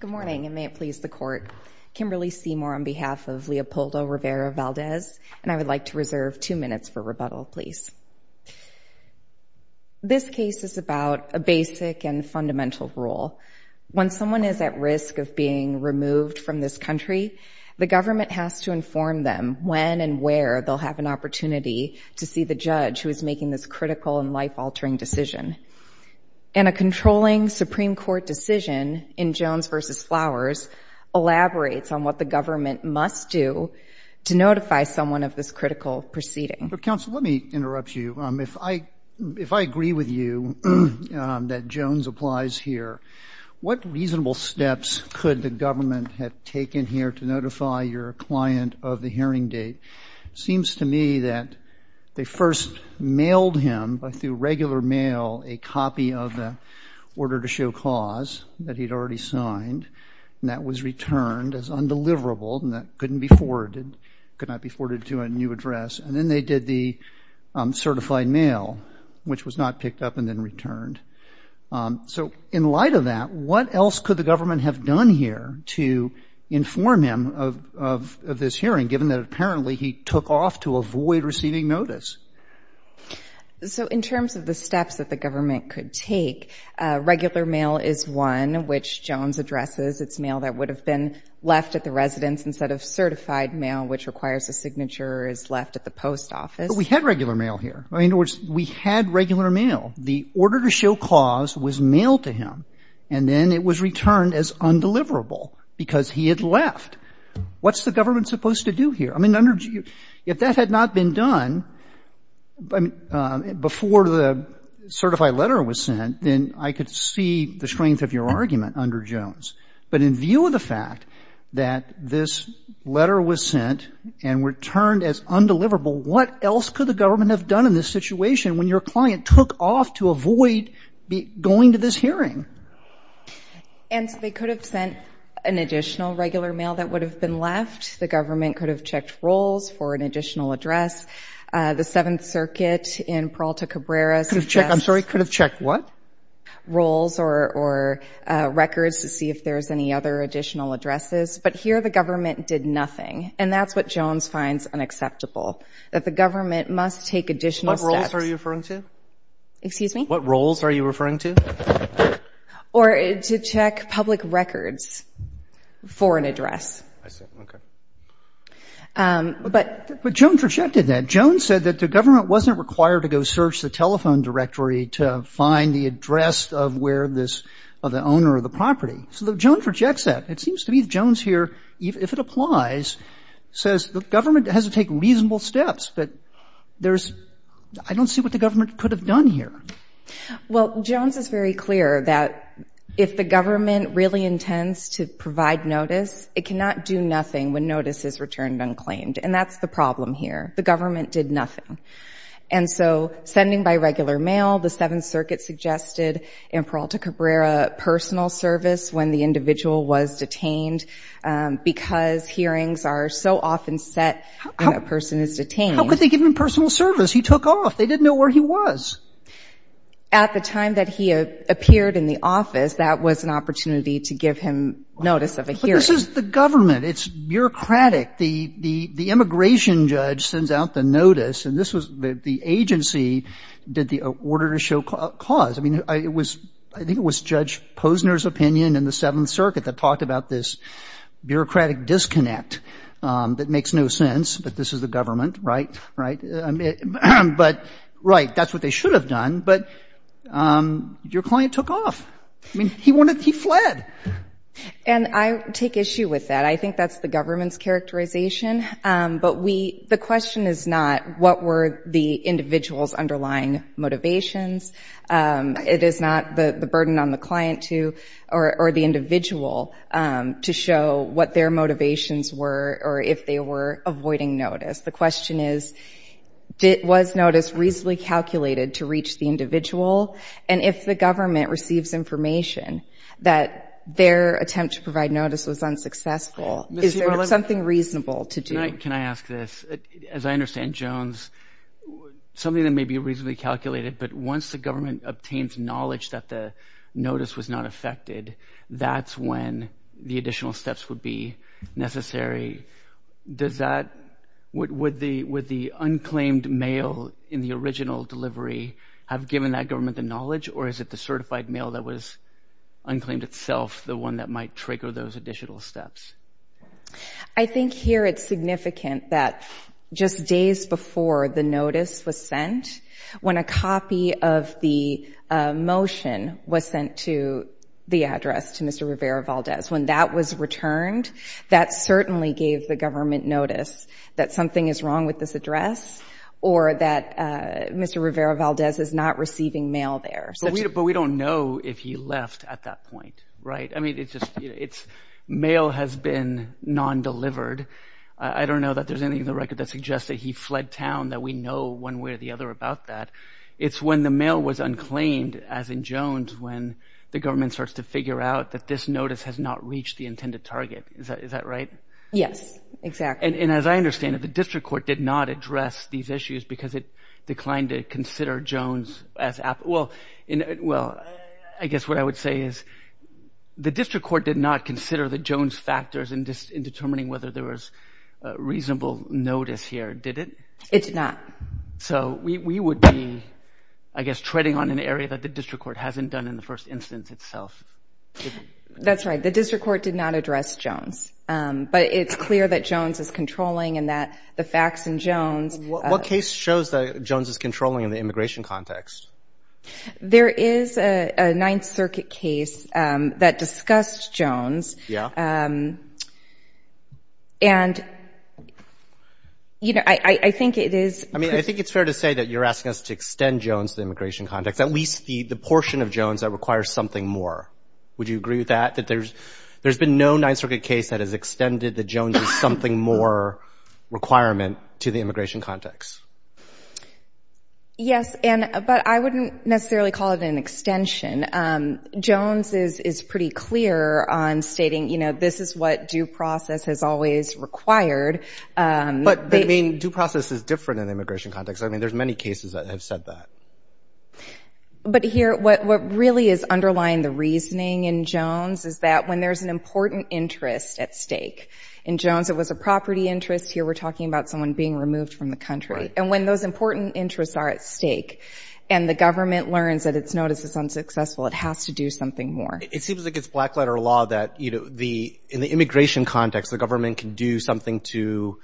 Good morning and may it please the court. Kimberly Seymour on behalf of Leopoldo Rivera-Valdez and I would like to reserve two minutes for rebuttal please. This case is about a basic and fundamental rule. When someone is at risk of being removed from this country, the government has to inform them when and where they'll have an opportunity to see the judge who is a critical and life-altering decision. And a controlling Supreme Court decision in Jones v. Flowers elaborates on what the government must do to notify someone of this critical proceeding. Counsel, let me interrupt you. If I agree with you that Jones applies here, what reasonable steps could the government have taken here to notify your client of the hearing date? It seems to me that they first mailed him through regular mail a copy of the order to show cause that he'd already signed and that was returned as undeliverable and that could not be forwarded to a new address. And then they did the certified mail, which was not picked up and then returned. So in light of that, what else could the government have done here to inform him of this hearing, given that apparently he took off to avoid receiving notice? So in terms of the steps that the government could take, regular mail is one, which Jones addresses. It's mail that would have been left at the residence instead of certified mail, which requires a signature, is left at the post office. We had regular mail here. In other words, we had regular mail. The order to show cause was mailed to him and then it was returned as undeliverable because he had left. What's the government supposed to do here? I mean, under you, if that had not been done before the certified letter was sent, then I could see the strength of your argument under Jones. But in view of the fact that this letter was sent and returned as undeliverable, what else could the government have done in this situation when your client took off to avoid going to this hearing? And they could have sent an additional regular mail that would have been left. The government could have checked rolls for an additional address. The Seventh Circuit in Peralta Cabrera could have checked, I'm sorry, could have checked what? Rolls or records to see if there's any other additional addresses. But here the government did nothing. And that's what Jones finds unacceptable, that the government must take additional steps. What rolls are you referring to? Excuse me? What rolls are you referring to? Or to check public records for an address. I see. Okay. But... But Jones rejected that. Jones said that the government wasn't required to go search the telephone directory to find the address of where this, of the owner of the property. So Jones rejects that. It seems to me Jones here, if it applies, says the government has to take reasonable steps. But there's, I don't see what the government could have done here. Well, Jones is very clear that if the government really intends to provide notice, it cannot do nothing when notice is returned unclaimed. And that's the problem here. The government did nothing. And so sending by regular mail, the Seventh Circuit suggested in Peralta Cabrera personal service when the individual was detained, because hearings are so often set when a person is detained. How could they give him personal service? He took off. They didn't know where he was. At the time that he appeared in the office, that was an opportunity to give him notice of a hearing. But this is the government. It's bureaucratic. The immigration judge sends out the notice. And this was the agency did the order to show cause. I mean, it was, I think it was Judge Posner's opinion in the Seventh Circuit that talked about this bureaucratic disconnect that makes no sense. But this is the government, right? Right? But, right, that's what they should have done. But your client took off. I mean, he wanted to, he fled. And I take issue with that. I think that's the government's characterization. But we, the question is not what were the individual's underlying motivations. It is not the burden on the client to, or the individual, to show what their motivations were or if they were avoiding notice. The question is, was notice reasonably calculated to reach the individual? And if the government receives information that their attempt to provide notice was unsuccessful, is there something reasonable to do? Can I ask this? As I understand, Jones, something that may be reasonably calculated, but once the government obtains knowledge that the notice was not affected, that's when the additional steps would be necessary. Does that, would the unclaimed mail in the original delivery have given that government the knowledge or is it the certified mail that was unclaimed itself the one that might trigger those additional steps? I think here it's significant that just days before the notice was sent, when a copy of the motion was sent to the address, to Mr. Rivera-Valdez, when that was returned, that certainly gave the government notice that something is wrong with this address or that Mr. Rivera-Valdez is not receiving mail there. But we don't know if he left at that point, right? I mean, it's just, it's, mail has been non-delivered. I don't know that there's anything in the record that suggests that he fled town, that we know one way or the other about that. It's when the mail was unclaimed, as in Jones, when the government starts to figure out that this notice has not reached the intended target. Is that right? Yes, exactly. And as I understand it, the district court did not address these issues because it declined to consider Jones as, well, I guess what I would say is the district court did not consider the Jones factors in determining whether there was a reasonable notice here, did it? It did not. So we would be, I guess, treading on an area that the district court hasn't done in the first instance itself. That's right. The district court did not address Jones. But it's clear that Jones is controlling and that the facts in Jones What case shows that Jones is controlling in the immigration context? There is a Ninth Circuit case that discussed Jones. Yeah. And, you know, I think it is I mean, I think it's fair to say that you're asking us to extend Jones to the immigration context, at least the portion of Jones that requires something more. Would you agree with that, that there's been no Ninth Circuit case that has extended the Jones is something more requirement to the immigration context? Yes. And but I wouldn't necessarily call it an extension. Jones is pretty clear on stating, you know, this is what due process has always required. But I mean, due process is different in the immigration context. I mean, there's many cases that have said that. But here, what really is underlying the reasoning in Jones is that when there's an important interest at stake in Jones, it was a property interest here. We're talking about someone being removed from the country. And when those important interests are at stake and the government learns that its notice is unsuccessful, it has to do something more. It seems like it's black letter law that, you know, the in the immigration context, the government can do something to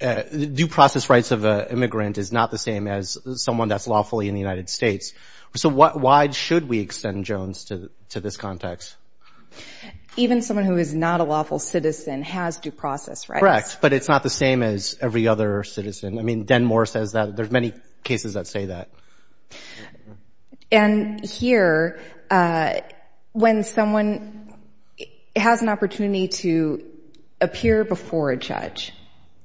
due process. Rights of an immigrant is not the same as someone that's lawfully in the United States. So why should we extend Jones to this context? Even someone who is not a lawful citizen has due process, right? Correct. But it's not the same as every other citizen. I mean, Denmore says that. There's many cases that say that. And here, when someone has an opportunity to appear before a judge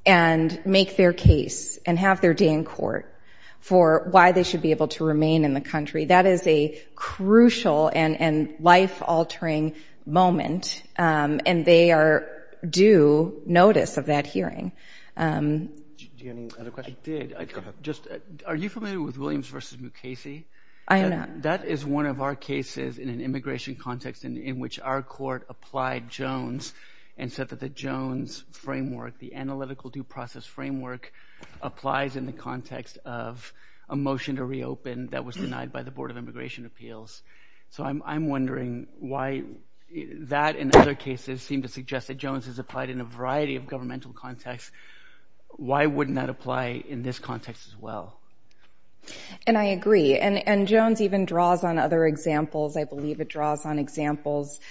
and make their case and have their day in court for why they should be able to remain in the country, that is a crucial and life-altering moment. And they are due notice of that hearing. Do you have any other questions? I did. Go ahead. Are you familiar with Williams v. Mukasey? I am not. That is one of our cases in an immigration context in which our court applied Jones and said that the Jones framework, the analytical due process framework, applies in the context of a motion to reopen that was denied by the Board of Immigration Appeals. So I'm wondering why that and other cases seem to suggest that Jones is applied in a variety of governmental contexts. Why wouldn't that apply in this context as well? And I agree. And Jones even draws on other examples. I believe it draws on examples of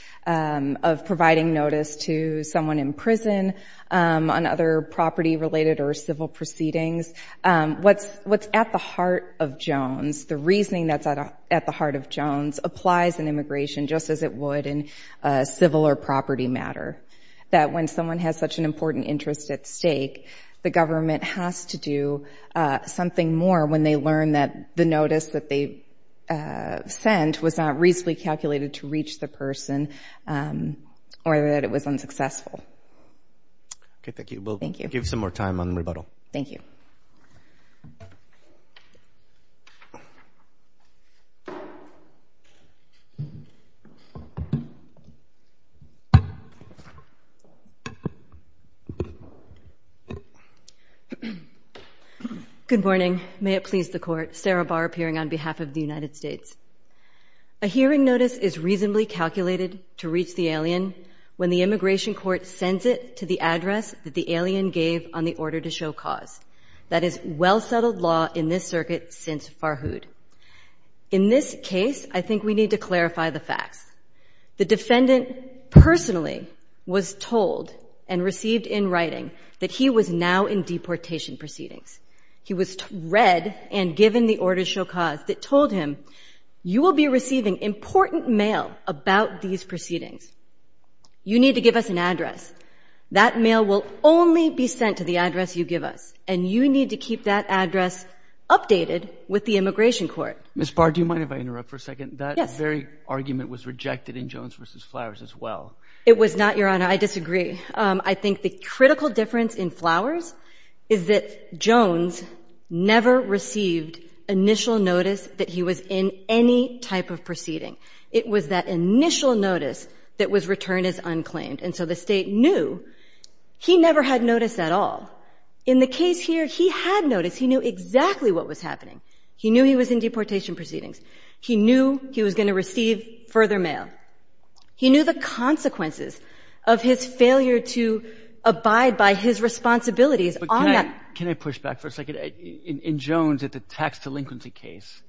What's at the heart of Jones, the reasoning that's at the heart of Jones, applies in immigration just as it would in a civil or property matter. That when someone has such an important interest at stake, the government has to do something more when they learn that the notice that they sent was not reasonably calculated to reach the person or that it was unsuccessful. Okay, thank you. Thank you. We'll give some more time on rebuttal. Thank you. Good morning. May it please the Court. Sarah Barr appearing on behalf of the United States. A hearing notice is reasonably calculated to reach the alien when the immigration court sends it to the address that the alien gave on the order to show cause. That is, well-settled law in this circuit since Farhood. In this case, I think we need to clarify the facts. The defendant personally was told and received in writing that he was now in deportation proceedings. He was read and given the order to show cause that told him, you will be receiving important mail about these proceedings. You need to give us an address. That mail will only be sent to the address you give us. And you need to keep that address updated with the immigration court. Ms. Barr, do you mind if I interrupt for a second? Yes. That very argument was rejected in Jones v. Flowers as well. It was not, Your Honor. I disagree. I think the critical difference in Flowers is that Jones never received initial notice that he was in any type of proceeding. It was that initial notice that was returned as unclaimed. And so the State knew he never had notice at all. In the case here, he had notice. He knew exactly what was happening. He knew he was in deportation proceedings. He knew he was going to receive further mail. He knew the consequences of his failure to abide by his responsibilities on that— But can I push back for a second? In Jones, at the tax delinquency case,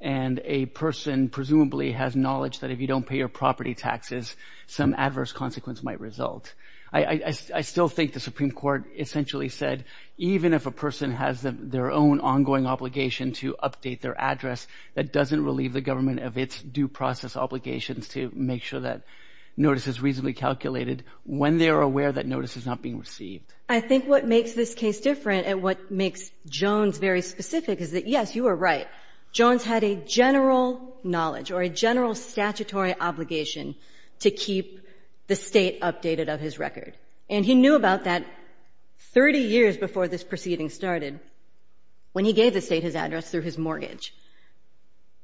and a person presumably has knowledge that if you don't pay your property taxes, some adverse consequence might result. I still think the Supreme Court essentially said even if a person has their own ongoing obligation to update their address, that doesn't relieve the government of its due process obligations to make sure that notice is reasonably calculated when they are aware that notice is not being received. I think what makes this case different and what makes Jones very specific is that, yes, you are right. Jones had a general knowledge or a general statutory obligation to keep the State updated of his record. And he knew about that 30 years before this proceeding started, when he gave the State his address through his mortgage.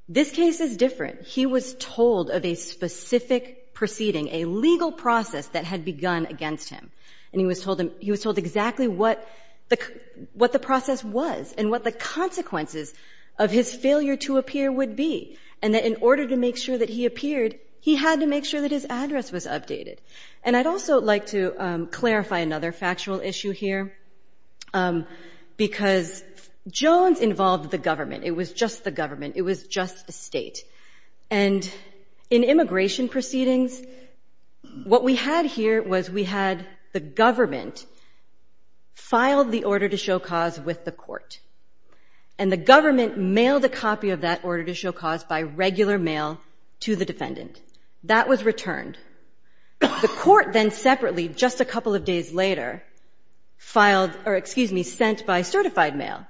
This case is different. He was told of a specific proceeding, a legal process that had begun against him. And he was told exactly what the process was and what the consequences of his failure to appear would be, and that in order to make sure that he appeared, he had to make sure that his address was updated. And I'd also like to clarify another factual issue here, because Jones involved the government. It was just the government. It was just the State. And in immigration proceedings, what we had here was we had the government file the order to show cause with the court. And the government mailed a copy of that order to show cause by regular mail to the defendant. That was returned. The court then separately, just a couple of days later, filed or, excuse me, sent by certified mail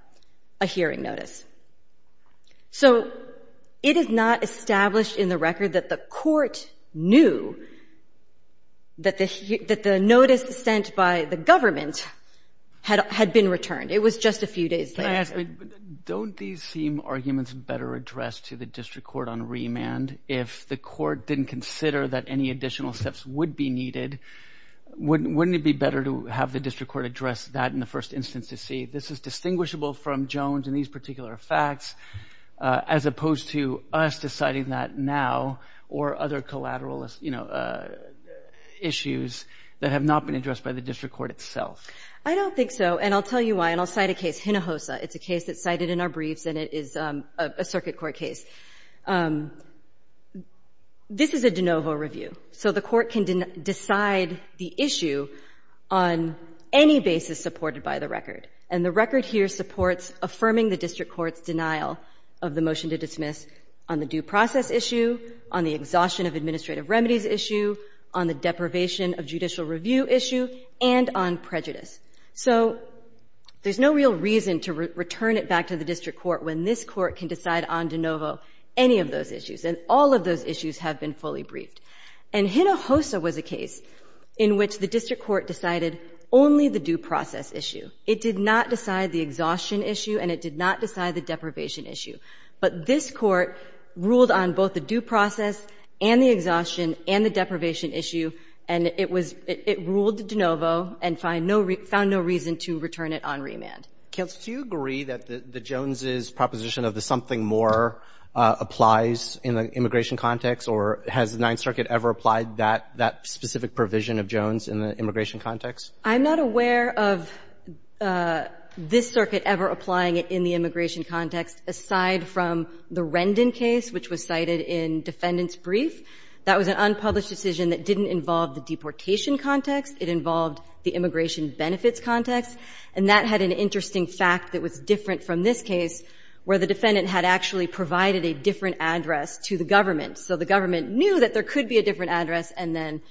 a hearing notice. So it is not established in the record that the court knew that the notice sent by the government had been returned. It was just a few days later. Don't these seem arguments better addressed to the district court on remand if the court didn't consider that any additional steps would be needed? Wouldn't it be better to have the district court address that in the first instance to see this is distinguishable from Jones and these particular facts, as opposed to us deciding that now or other collateral issues that have not been addressed by the district court itself? I don't think so. And I'll tell you why. And I'll cite a case, Hinojosa. It's a case that's cited in our briefs, and it is a circuit court case. This is a de novo review. So the court can decide the issue on any basis supported by the record. And the record here supports affirming the district court's denial of the motion to dismiss on the due process issue, on the exhaustion of administrative remedies issue, on the deprivation of judicial review issue, and on prejudice. So there's no real reason to return it back to the district court when this court can decide on de novo any of those issues. And all of those issues have been fully briefed. And Hinojosa was a case in which the district court decided only the due process issue. It did not decide the exhaustion issue, and it did not decide the deprivation issue. But this court ruled on both the due process and the exhaustion and the deprivation issue. And it was — it ruled de novo and found no — found no reason to return it on remand. Kagan. Do you agree that Jones' proposition of the something more applies in the immigration context? Or has the Ninth Circuit ever applied that specific provision of Jones in the immigration context? I'm not aware of this circuit ever applying it in the immigration context, aside from the Rendon case, which was cited in defendant's brief. That was an unpublished decision that didn't involve the deportation context. It involved the immigration benefits context. And that had an interesting fact that was different from this case, where the defendant had actually provided a different address to the government. So the government knew that there could be a different address and then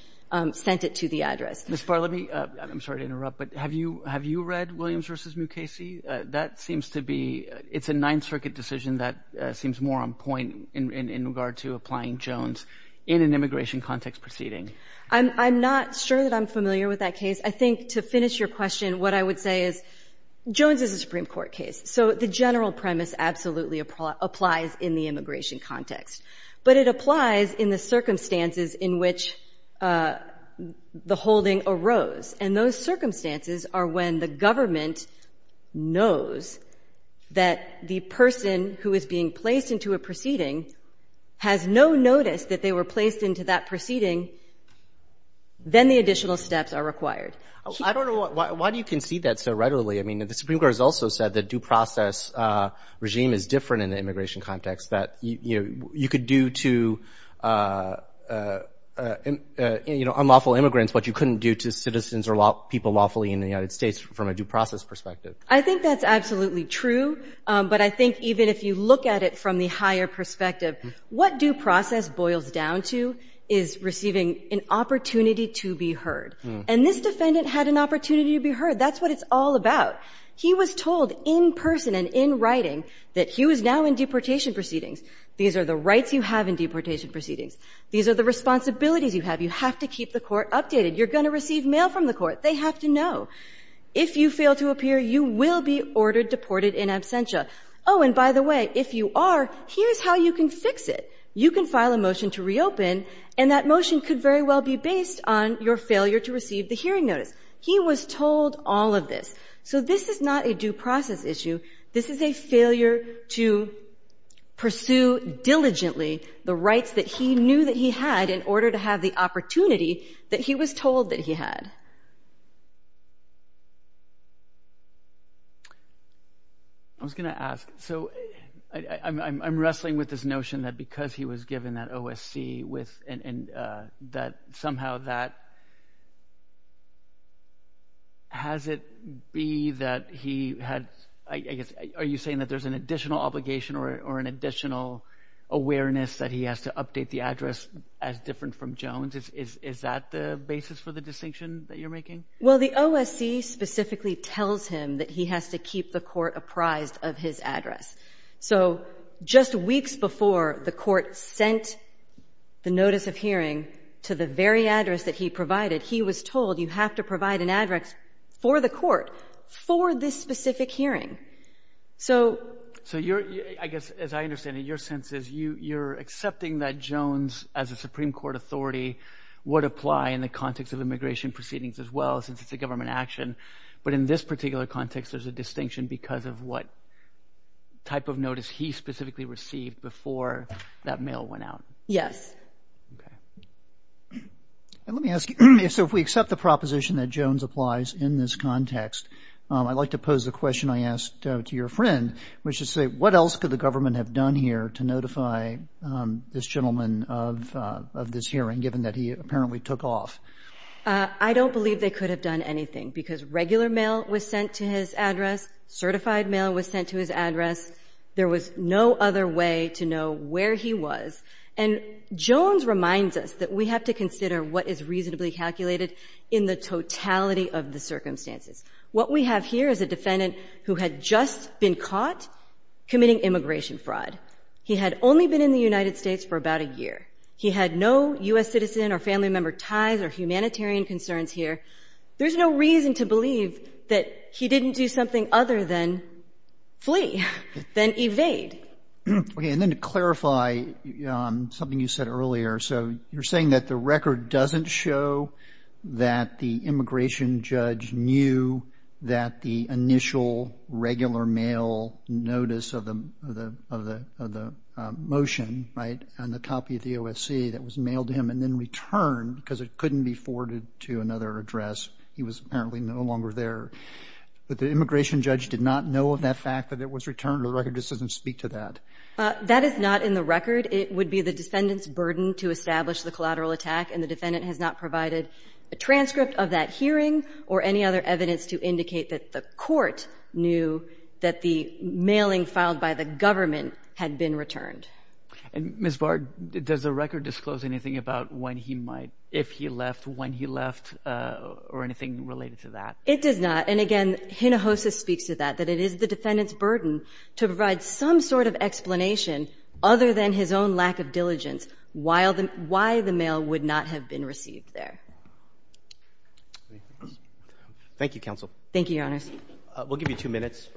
sent it to the address. Ms. Barr, let me — I'm sorry to interrupt, but have you — have you read Williams v. Mukasey? That seems to be — it's a Ninth Circuit decision that seems more on point in regard to applying Jones in an immigration context proceeding. I'm not sure that I'm familiar with that case. I think, to finish your question, what I would say is, Jones is a Supreme Court case. So the general premise absolutely applies in the immigration context. But it applies in the circumstances in which the holding arose. And those circumstances are when the government knows that the person who is being placed into a proceeding has no notice that they were placed into that proceeding, then the additional steps are required. I don't know — why do you concede that so readily? I mean, the Supreme Court has also said the due process regime is different in the immigration context, that, you know, you could do to unlawful immigrants what you couldn't do to citizens or people lawfully in the United States from a due process perspective. I think that's absolutely true. But I think even if you look at it from the higher perspective, what due process boils down to is receiving an opportunity to be heard. And this defendant had an opportunity to be heard. That's what it's all about. He was told in person and in writing that he was now in deportation proceedings. These are the rights you have in deportation proceedings. These are the responsibilities you have. You have to keep the court updated. You're going to receive mail from the court. They have to know. If you fail to appear, you will be ordered deported in absentia. Oh, and by the way, if you are, here's how you can fix it. You can file a motion to reopen, and that motion could very well be based on your failure to receive the hearing notice. He was told all of this. So this is not a due process issue. This is a failure to pursue diligently the rights that he knew that he had in order to have the opportunity that he was told that he had. I was going to ask. So I'm wrestling with this notion that because he was given that notice, that has it be that he had, I guess, are you saying that there's an additional obligation or an additional awareness that he has to update the address as different from Jones? Is that the basis for the distinction that you're making? Well, the OSC specifically tells him that he has to keep the court apprised of his address. So just weeks before the court sent the notice of hearing to the very address that he provided, he was told you have to provide an address for the court for this specific hearing. So I guess, as I understand it, your sense is you're accepting that Jones, as a Supreme Court authority, would apply in the context of immigration proceedings as well, since it's a government action. But in this particular context, there's a distinction because of what type of notice he specifically received before that mail went out. Yes. Okay. And let me ask you, so if we accept the proposition that Jones applies in this context, I'd like to pose the question I asked to your friend, which is to say, what else could the government have done here to notify this gentleman of this hearing, given that he apparently took off? I don't believe they could have done anything, because regular mail was sent to his address, certified mail was sent to his address. There was no other way to know where he was. And Jones reminds us that we have to consider what is reasonably calculated in the totality of the circumstances. What we have here is a defendant who had just been caught committing immigration fraud. He had only been in the United States for about a year. He had no U.S. citizen or family member ties or humanitarian concerns here. There's no reason to believe that he didn't do something other than flee. Then evade. Okay. And then to clarify something you said earlier, so you're saying that the record doesn't show that the immigration judge knew that the initial regular mail notice of the motion, right, and the copy of the OSC that was mailed to him and then returned because it couldn't be forwarded to another address. He was apparently no longer there. But the immigration judge did not know of that fact that it was returned. The record just doesn't speak to that. That is not in the record. It would be the defendant's burden to establish the collateral attack, and the defendant has not provided a transcript of that hearing or any other evidence to indicate that the court knew that the mailing filed by the government had been returned. And Ms. Bard, does the record disclose anything about when he might, if he left, when he left or anything related to that? It does not. And again, Hinojosa speaks to that, that it is the defendant's burden to provide some sort of explanation other than his own lack of diligence why the mail would not have been received there. Thank you, counsel. Thank you, Your Honors. We'll give you two minutes.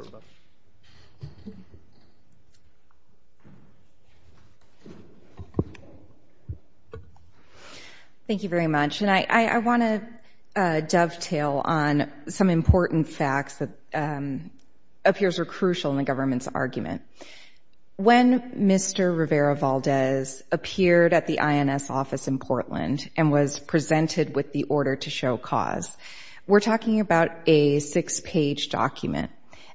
Thank you very much. And I want to dovetail on some important facts that appears are crucial in the government's argument. When Mr. Rivera-Valdez appeared at the INS office in Portland and was presented with the order to show cause, we're talking about a six-page document.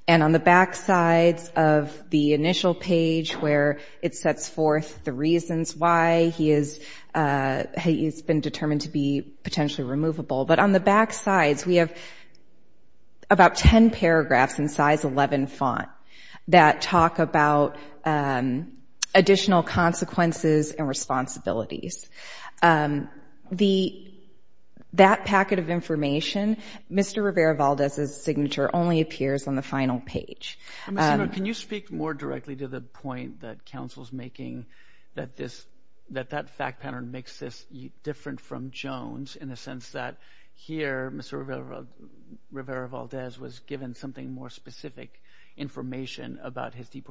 And on the backsides of the initial page where it sets forth the reasons why he has been determined to be potentially removable, but on the backsides, we have about 10 paragraphs in size 11 font that talk about additional consequences and responsibilities. That packet of information, Mr. Rivera-Valdez's signature only appears on the final page. Ms. Hinojosa, can you speak more directly to the point that counsel is making that this, that that fact pattern makes this different from Jones in the sense that here, Mr. Rivera-Valdez was given something more specific information about his life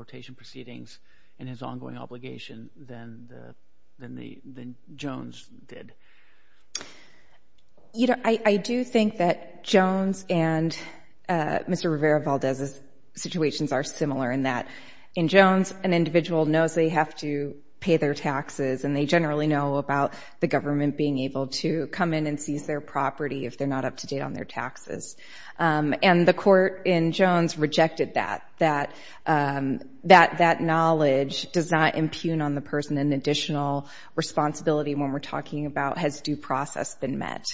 than Jones did? You know, I do think that Jones and Mr. Rivera-Valdez's situations are similar in that in Jones, an individual knows they have to pay their taxes and they generally know about the government being able to come in and seize their property if they're not up to date on their taxes. And the court in Jones rejected that, that knowledge does not impugn on the person an additional responsibility when we're talking about has due process been met.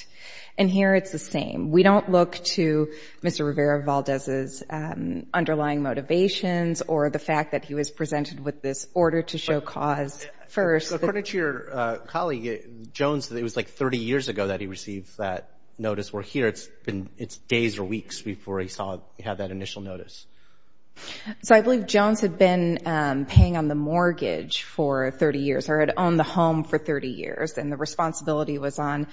And here it's the same. We don't look to Mr. Rivera-Valdez's underlying motivations or the fact that he was presented with this order to show cause first. According to your colleague, Jones, it was like 30 years ago that he received that financial notice. So I believe Jones had been paying on the mortgage for 30 years or had owned the home for 30 years. And the responsibility was on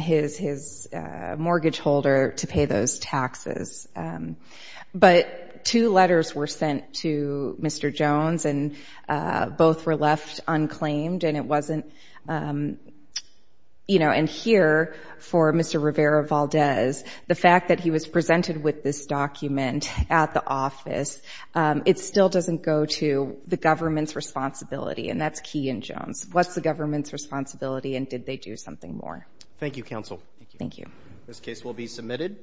his, his mortgage holder to pay those taxes. But two letters were sent to Mr. Jones and both were left unclaimed. And it wasn't, you know, and here for Mr. Rivera-Valdez, the fact that he was present at the office, it still doesn't go to the government's responsibility. And that's key in Jones. What's the government's responsibility and did they do something more? Thank you, counsel. Thank you. This case will be submitted.